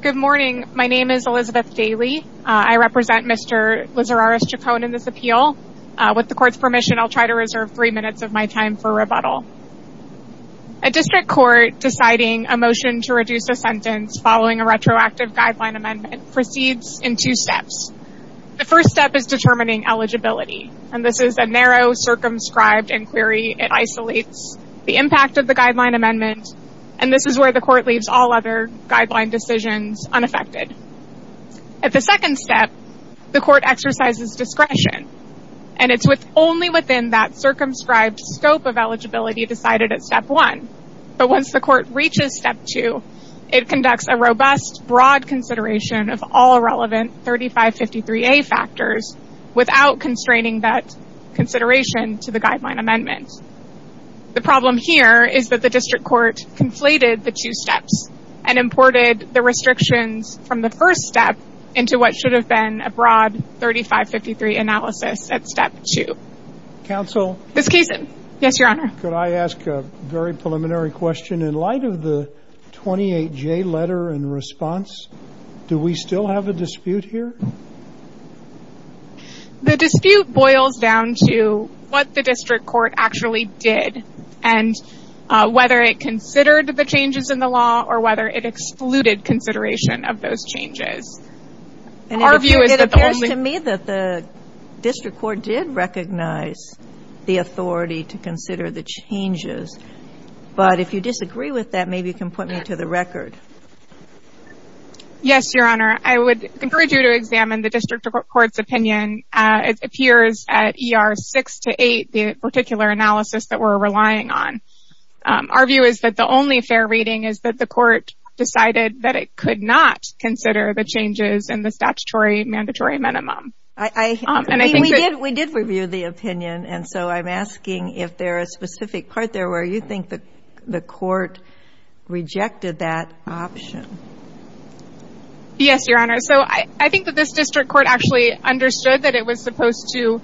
Good morning, my name is Elizabeth Daly. I represent Mr. Lizarraras-Chacon in this appeal. With the court's permission, I'll try to reserve three minutes of my time for rebuttal. A district court deciding a motion to reduce a sentence following a retroactive guideline amendment proceeds in two steps. The first step is determining eligibility, and this is a narrow circumscribed inquiry. It isolates the impact of the guideline amendment, and this is where the decision is unaffected. At the second step, the court exercises discretion, and it's only within that circumscribed scope of eligibility decided at step one. But once the court reaches step two, it conducts a robust, broad consideration of all relevant 3553A factors without constraining that consideration to the guideline amendment. The problem here is that the district court conflated the two steps and imported the restrictions from the first step into what should have been a broad 3553 analysis at step two. Counsel? Yes, your honor. Could I ask a very preliminary question? In light of the 28J letter in response, do we still have a dispute here? No. The dispute boils down to what the district court actually did and whether it considered the changes in the law or whether it excluded consideration of those changes. It appears to me that the district court did recognize the authority to consider the changes, but if you disagree with that, maybe you can put me to the record. Yes, your honor. I would encourage you to examine the district court's opinion. It appears at ER six to eight, the particular analysis that we're relying on. Our view is that the only fair reading is that the court decided that it could not consider the changes in the statutory mandatory minimum. We did review the opinion, and so I'm asking if there is a specific part there where you think that the court rejected that option. Yes, your honor. So I think that this district court actually understood that it was supposed to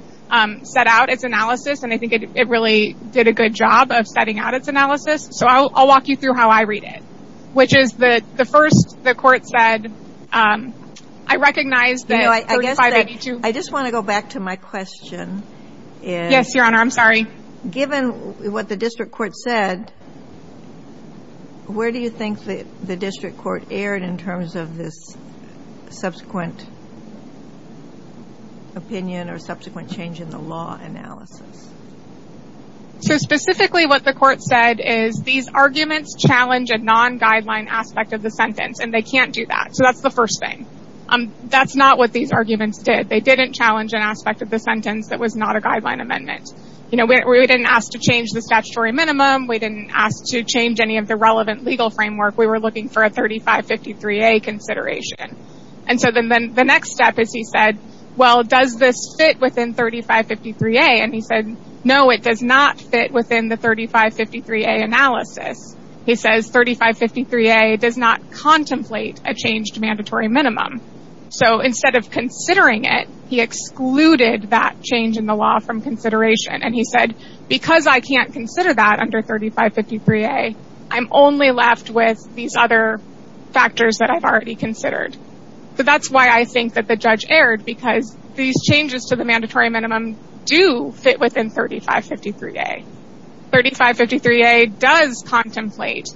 set out its analysis, and I think it really did a good job of setting out its analysis. So I'll walk you through how I read it, which is the first the court said, I recognize that 3582. I just want to go back to my question. Yes, your honor. I'm sorry. Given what the district court said, where do you think that the district court erred in terms of this subsequent opinion or subsequent change in the law analysis? So specifically what the court said is these arguments challenge a non-guideline aspect of the sentence, and they can't do that. So that's the first thing. That's not what these arguments did. They didn't challenge an aspect of the amendment. We didn't ask to change the statutory minimum. We didn't ask to change any of the relevant legal framework. We were looking for a 3553A consideration. And so then the next step is he said, well, does this fit within 3553A? And he said, no, it does not fit within the 3553A analysis. He says 3553A does not contemplate a changed mandatory minimum. So instead of and he said, because I can't consider that under 3553A, I'm only left with these other factors that I've already considered. So that's why I think that the judge erred, because these changes to the mandatory minimum do fit within 3553A. 3553A does contemplate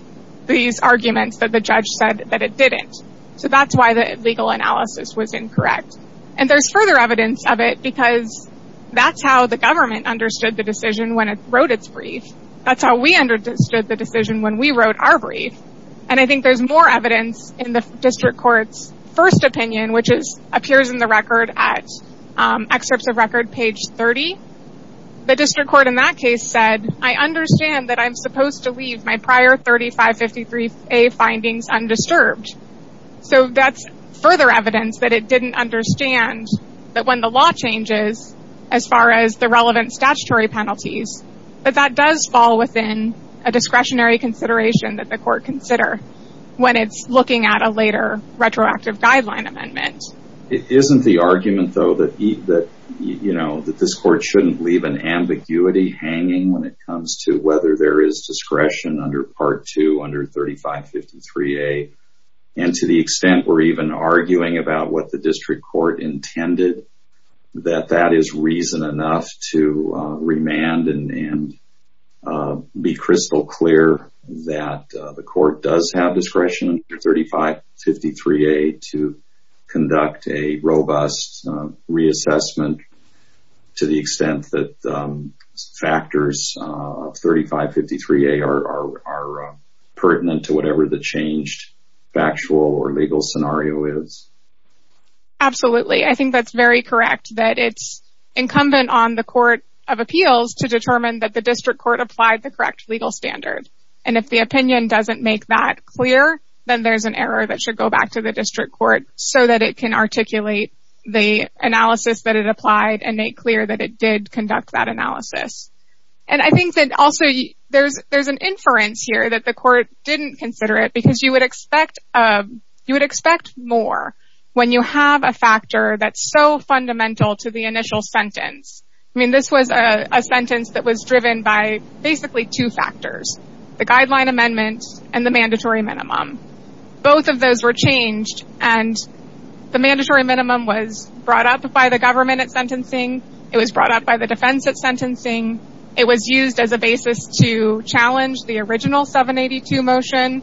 these arguments that the judge said that it didn't. So that's why the legal analysis was understood the decision when it wrote its brief. That's how we understood the decision when we wrote our brief. And I think there's more evidence in the district court's first opinion, which is appears in the record at excerpts of record page 30. The district court in that case said, I understand that I'm supposed to leave my prior 3553A findings undisturbed. So that's further evidence that it didn't understand that when the law changes, as far as the relevant statutory penalties, that that does fall within a discretionary consideration that the court consider when it's looking at a later retroactive guideline amendment. It isn't the argument, though, that this court shouldn't leave an ambiguity hanging when it comes to whether there is discretion under Part 2 under 3553A. And to the extent we're even arguing about what the district court intended, that that is reason enough to remand and be crystal clear that the court does have discretion under 3553A to conduct a robust reassessment to the extent that factors of 3553A are pertinent to whatever the changed factual or legal scenario is. Absolutely. I think that's very correct that it's incumbent on the court of appeals to determine that the district court applied the correct legal standard. And if the opinion doesn't make that clear, then there's an error that should go back to the district court so that it can articulate the analysis that it applied and make clear that it did conduct that analysis. And I think that also there's an inference here that the court didn't consider it because you would expect more when you have a factor that's so fundamental to the initial sentence. I mean, this was a sentence that was driven by basically two factors, the guideline amendment and the minimum was brought up by the government at sentencing. It was brought up by the defense at sentencing. It was used as a basis to challenge the original 782 motion.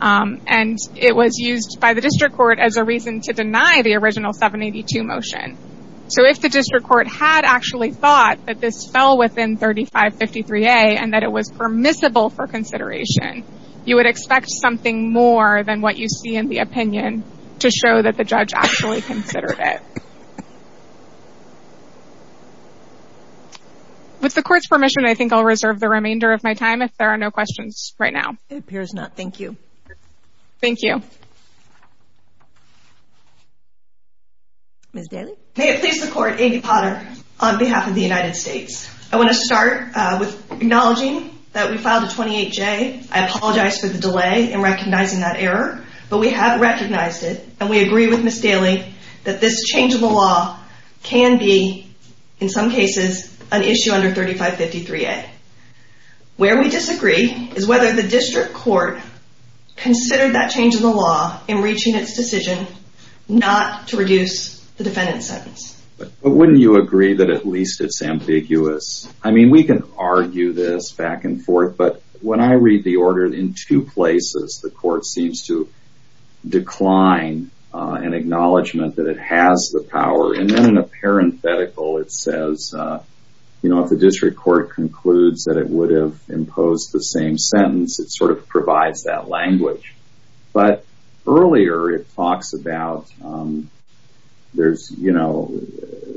And it was used by the district court as a reason to deny the original 782 motion. So if the district court had actually thought that this fell within 3553A and that it was permissible for consideration, you would expect something more than what you see in the opinion to show that the judge actually considered it. With the court's permission, I think I'll reserve the remainder of my time if there are no questions right now. It appears not. Thank you. Thank you. Ms. Daly? May it please the court, Amy Potter on behalf of the United States. I want to start with acknowledging that we filed a 28J. I apologize for the delay in recognizing that error, but we have recognized it and we agree with Ms. Daly that this change in the law can be, in some cases, an issue under 3553A. Where we disagree is whether the district court considered that change in the law in reaching its decision not to reduce the defendant's sentence. But wouldn't you agree that at least it's ambiguous? I mean, we can argue this back and forth, but when I read the order in two places, the court seems to decline an acknowledgement that it has the power. And then in a parenthetical, it says, you know, if the district court concludes that it would have imposed the same sentence, it sort of provides that language. But earlier, it talks about there's, you know,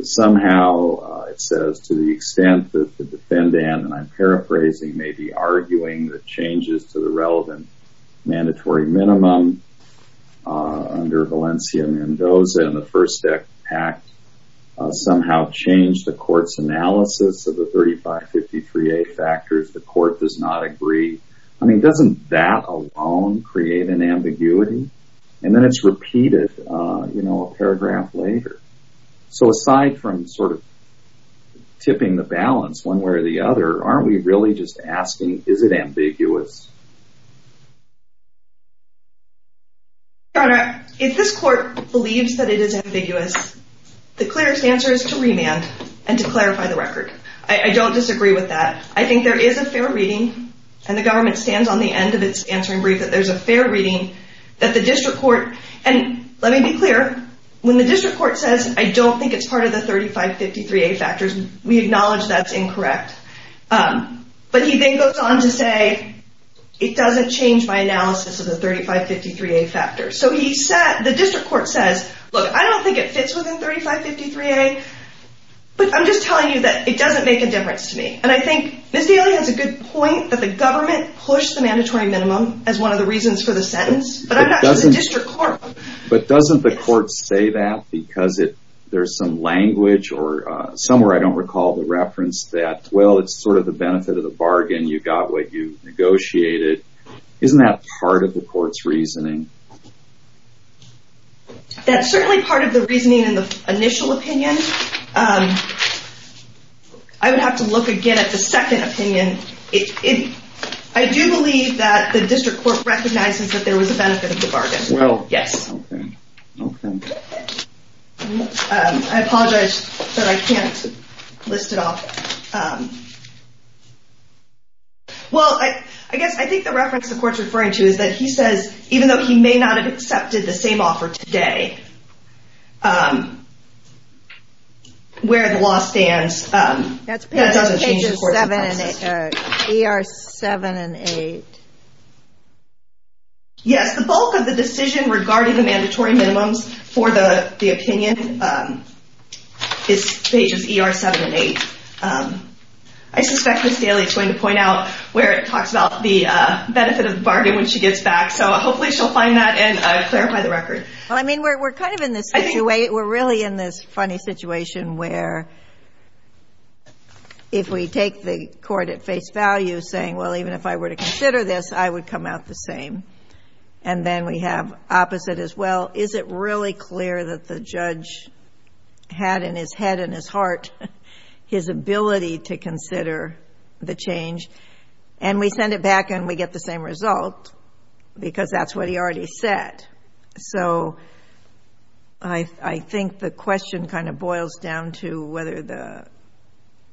somehow it says to the extent that the defendant, and I'm paraphrasing, may be arguing the changes to the relevant mandatory minimum under Valencia Mendoza and the First Act somehow changed the court's analysis of the 3553A factors. The court does not agree. I mean, doesn't that alone create an ambiguity? And then it's repeated, you know, a paragraph later. So aside from sort of tipping the balance one way or the other, aren't we really just asking, is it ambiguous? Your Honor, if this court believes that it is ambiguous, the clearest answer is to remand and to clarify the record. I don't disagree with that. I think there is a fair reading, and the government stands on the end of its answering brief, that there's a fair reading that the district court, and let me be clear, when the district court says, I don't think it's part of the 3553A factors, we acknowledge that's incorrect. But he then goes on to say, it doesn't change my analysis of the 3553A factors. So he said, the district court says, look, I don't think it fits within 3553A, but I'm just telling you that it doesn't make a difference to me. And I think Ms. Daly has a good point that the government pushed the mandatory minimum as one of the reasons for the sentence, but I'm not just a district court. But doesn't the court say that because there's some language or somewhere, I don't recall the reference that, well, it's sort of the benefit of the bargain. You got what you negotiated. Isn't that part of the court's reasoning? That's certainly part of the reasoning in the initial opinion. I would have to look again at the second opinion. I do believe that the district court recognizes that there was a benefit of the bargain. Well, yes. I apologize, but I can't list it off. Well, I guess I think the reference the court's referring to is that he says, even though he may not have accepted the same offer today, where the law stands, that doesn't change the course of the process. That's pages 7 and 8. Yes, the bulk of the decision regarding the mandatory minimums for the opinion is pages 7 and 8. I suspect Ms. Daly is going to point out where it talks about the benefit of the bargain when she gets back. So hopefully she'll find that and clarify the record. Well, I mean, we're kind of in this situation. We're really in this funny situation where if we take the court at face value saying, well, even if I were to consider this, I would come out the same. And then we have opposite as well. Is it really clear that the judge had in his head and his heart his ability to consider the change? And we send it back and we get the same result because that's what he already said. So I think the question kind of boils down to whether the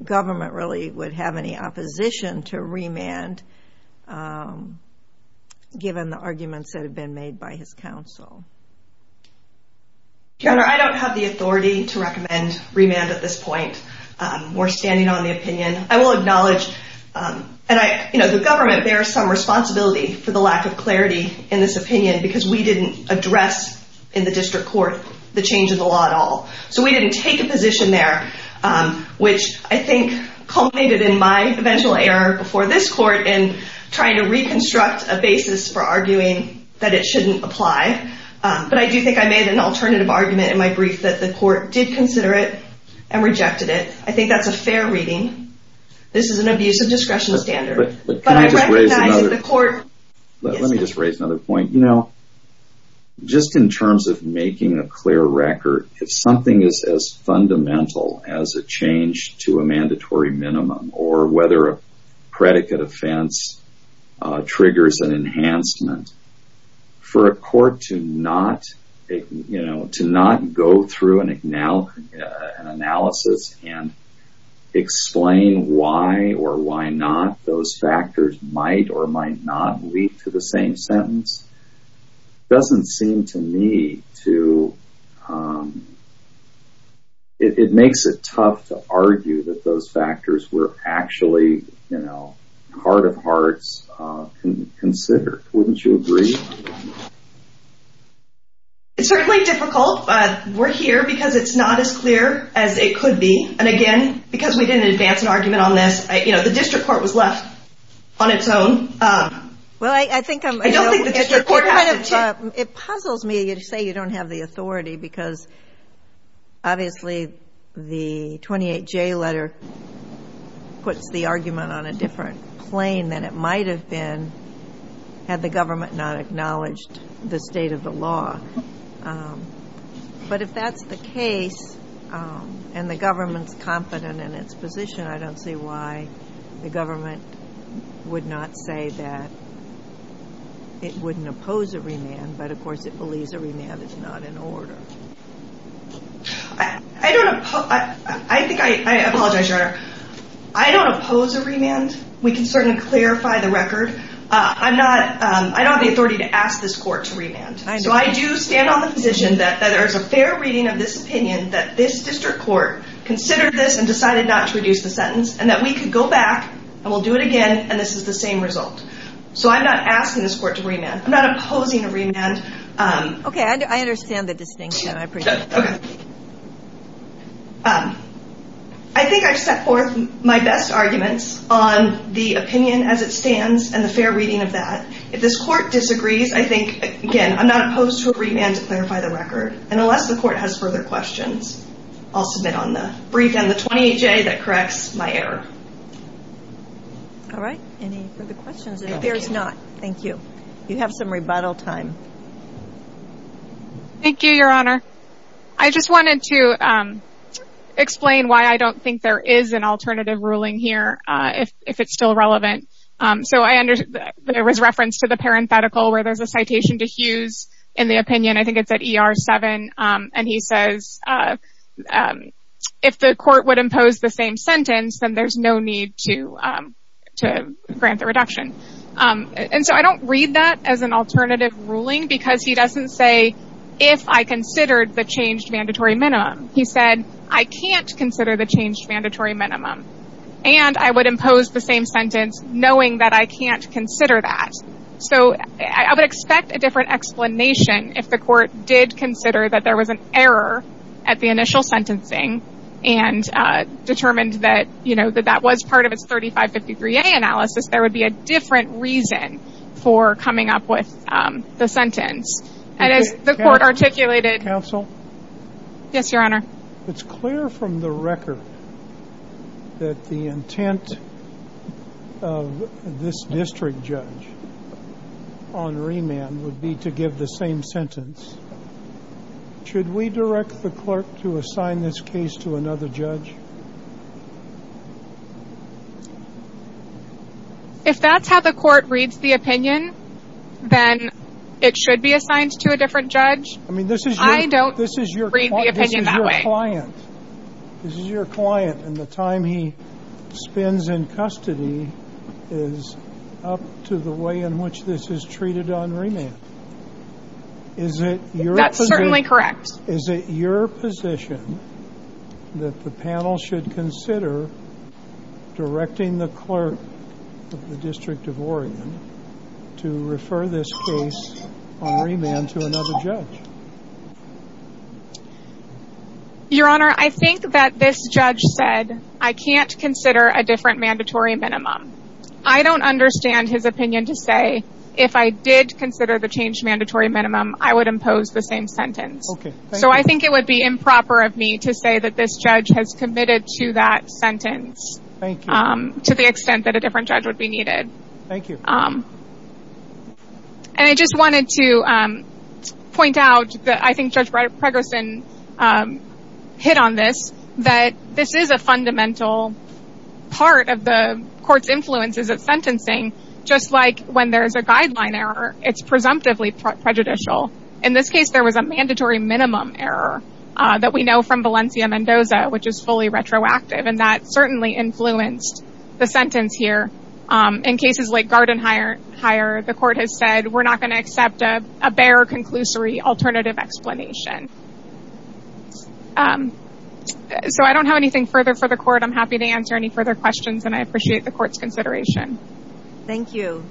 government really would have any opposition to remand given the arguments that have been made by his counsel. Your Honor, I don't have the authority to recommend remand at this point. We're standing on the opinion. I will acknowledge, and the government bears some responsibility for the lack of clarity in this opinion because we didn't address in the district court the change in the law at all. So we didn't take a position there, which I think culminated in my eventual error before this court in trying to reconstruct a basis for arguing that it shouldn't apply. But I do think I made an alternative argument in my brief that the court did consider it and rejected it. I think that's a fair reading. This is an abuse of discretion standard. Let me just raise another point. You know, just in terms of making a clear record, if something is as fundamental as a change to a mandatory minimum or whether a predicate offense triggers an enhancement, for a court to not, you know, to not go through an analysis and explain why or why not those factors might or might not lead to the same sentence, doesn't seem to me to, it makes it tough to argue that those factors were actually, you know, heart of hearts considered. Wouldn't you agree? It's certainly difficult, but we're here because it's not as clear as it could be. And again, because we didn't advance an argument on this, you know, the district court was left on its own. Well, I think it puzzles me to say you don't have the authority because obviously the 28J letter puts the argument on a different plane than it might have been had the government not acknowledged the state of the law. But if that's the case and the government's in its position, I don't see why the government would not say that it wouldn't oppose a remand, but of course it believes a remand is not an order. I don't, I think I apologize, Your Honor. I don't oppose a remand. We can certainly clarify the record. I'm not, I don't have the authority to ask this court to remand. So I do stand on the position that there is a fair reading of this opinion that this district court considered this and decided not to reduce the sentence and that we could go back and we'll do it again and this is the same result. So I'm not asking this court to remand. I'm not opposing a remand. Okay. I understand the distinction. I think I've set forth my best arguments on the opinion as it stands and the fair reading of that. If this court disagrees, I think, again, I'm not opposed to a remand to clarify the record. And unless the court has further questions, I'll submit on the brief and the 28-J that corrects my error. All right. Any further questions? If there's not, thank you. You have some rebuttal time. Thank you, Your Honor. I just wanted to explain why I don't think there is an alternative ruling here if it's still relevant. So I understood that there was reference to the parenthetical where there's a citation to Hughes in the opinion. I think it's at ER 7 and he says if the court would impose the same sentence, then there's no need to grant the reduction. And so I don't read that as an alternative ruling because he doesn't say if I considered the changed mandatory minimum. He said I can't consider the changed mandatory minimum and I would impose the same sentence knowing that I can't consider that. So I would expect a different explanation if the court did consider that there was an error at the initial sentencing and determined that, you know, that that was part of its 3553A analysis. There would be a different reason for coming up with the sentence. And as the court articulated... Counsel? Yes, Your Honor. It's clear from the record that the intent of this district judge on remand would be to give the same sentence. Should we direct the clerk to assign this case to another judge? If that's how the court reads the opinion, then it should be assigned to a different judge. I mean, this is... I don't read the opinion that way. This is your client. This is your client. And the time he spends in custody is up to the way in which this is treated on remand. That's certainly correct. Is it your position that the panel should consider directing the clerk of the District of Oregon to refer this case on remand to another judge? Your Honor, I think that this judge said I can't consider a different mandatory minimum. I don't understand his opinion to say if I did consider the change mandatory minimum, I would impose the same sentence. So I think it would be improper of me to say that this judge has committed to that sentence to the extent that a different judge would be needed. Thank you. And I just wanted to point out that I think Judge Pregerson hit on this, that this is a fundamental part of the court's influences of sentencing. Just like when there's a guideline error, it's presumptively prejudicial. In this case, there was a mandatory minimum error that we know from Valencia-Mendoza, which is fully retroactive. And that certainly influenced the sentence here. In cases like Garden Hire, the court has said we're not going to accept a bare conclusory alternative explanation. So I don't have anything further for the court. I'm happy to answer any further questions, and I appreciate the court's consideration. Thank you.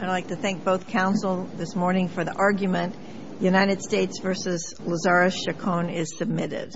I'd like to thank both counsel this morning for the argument. United States v. Lazarus-Chacon is submitted.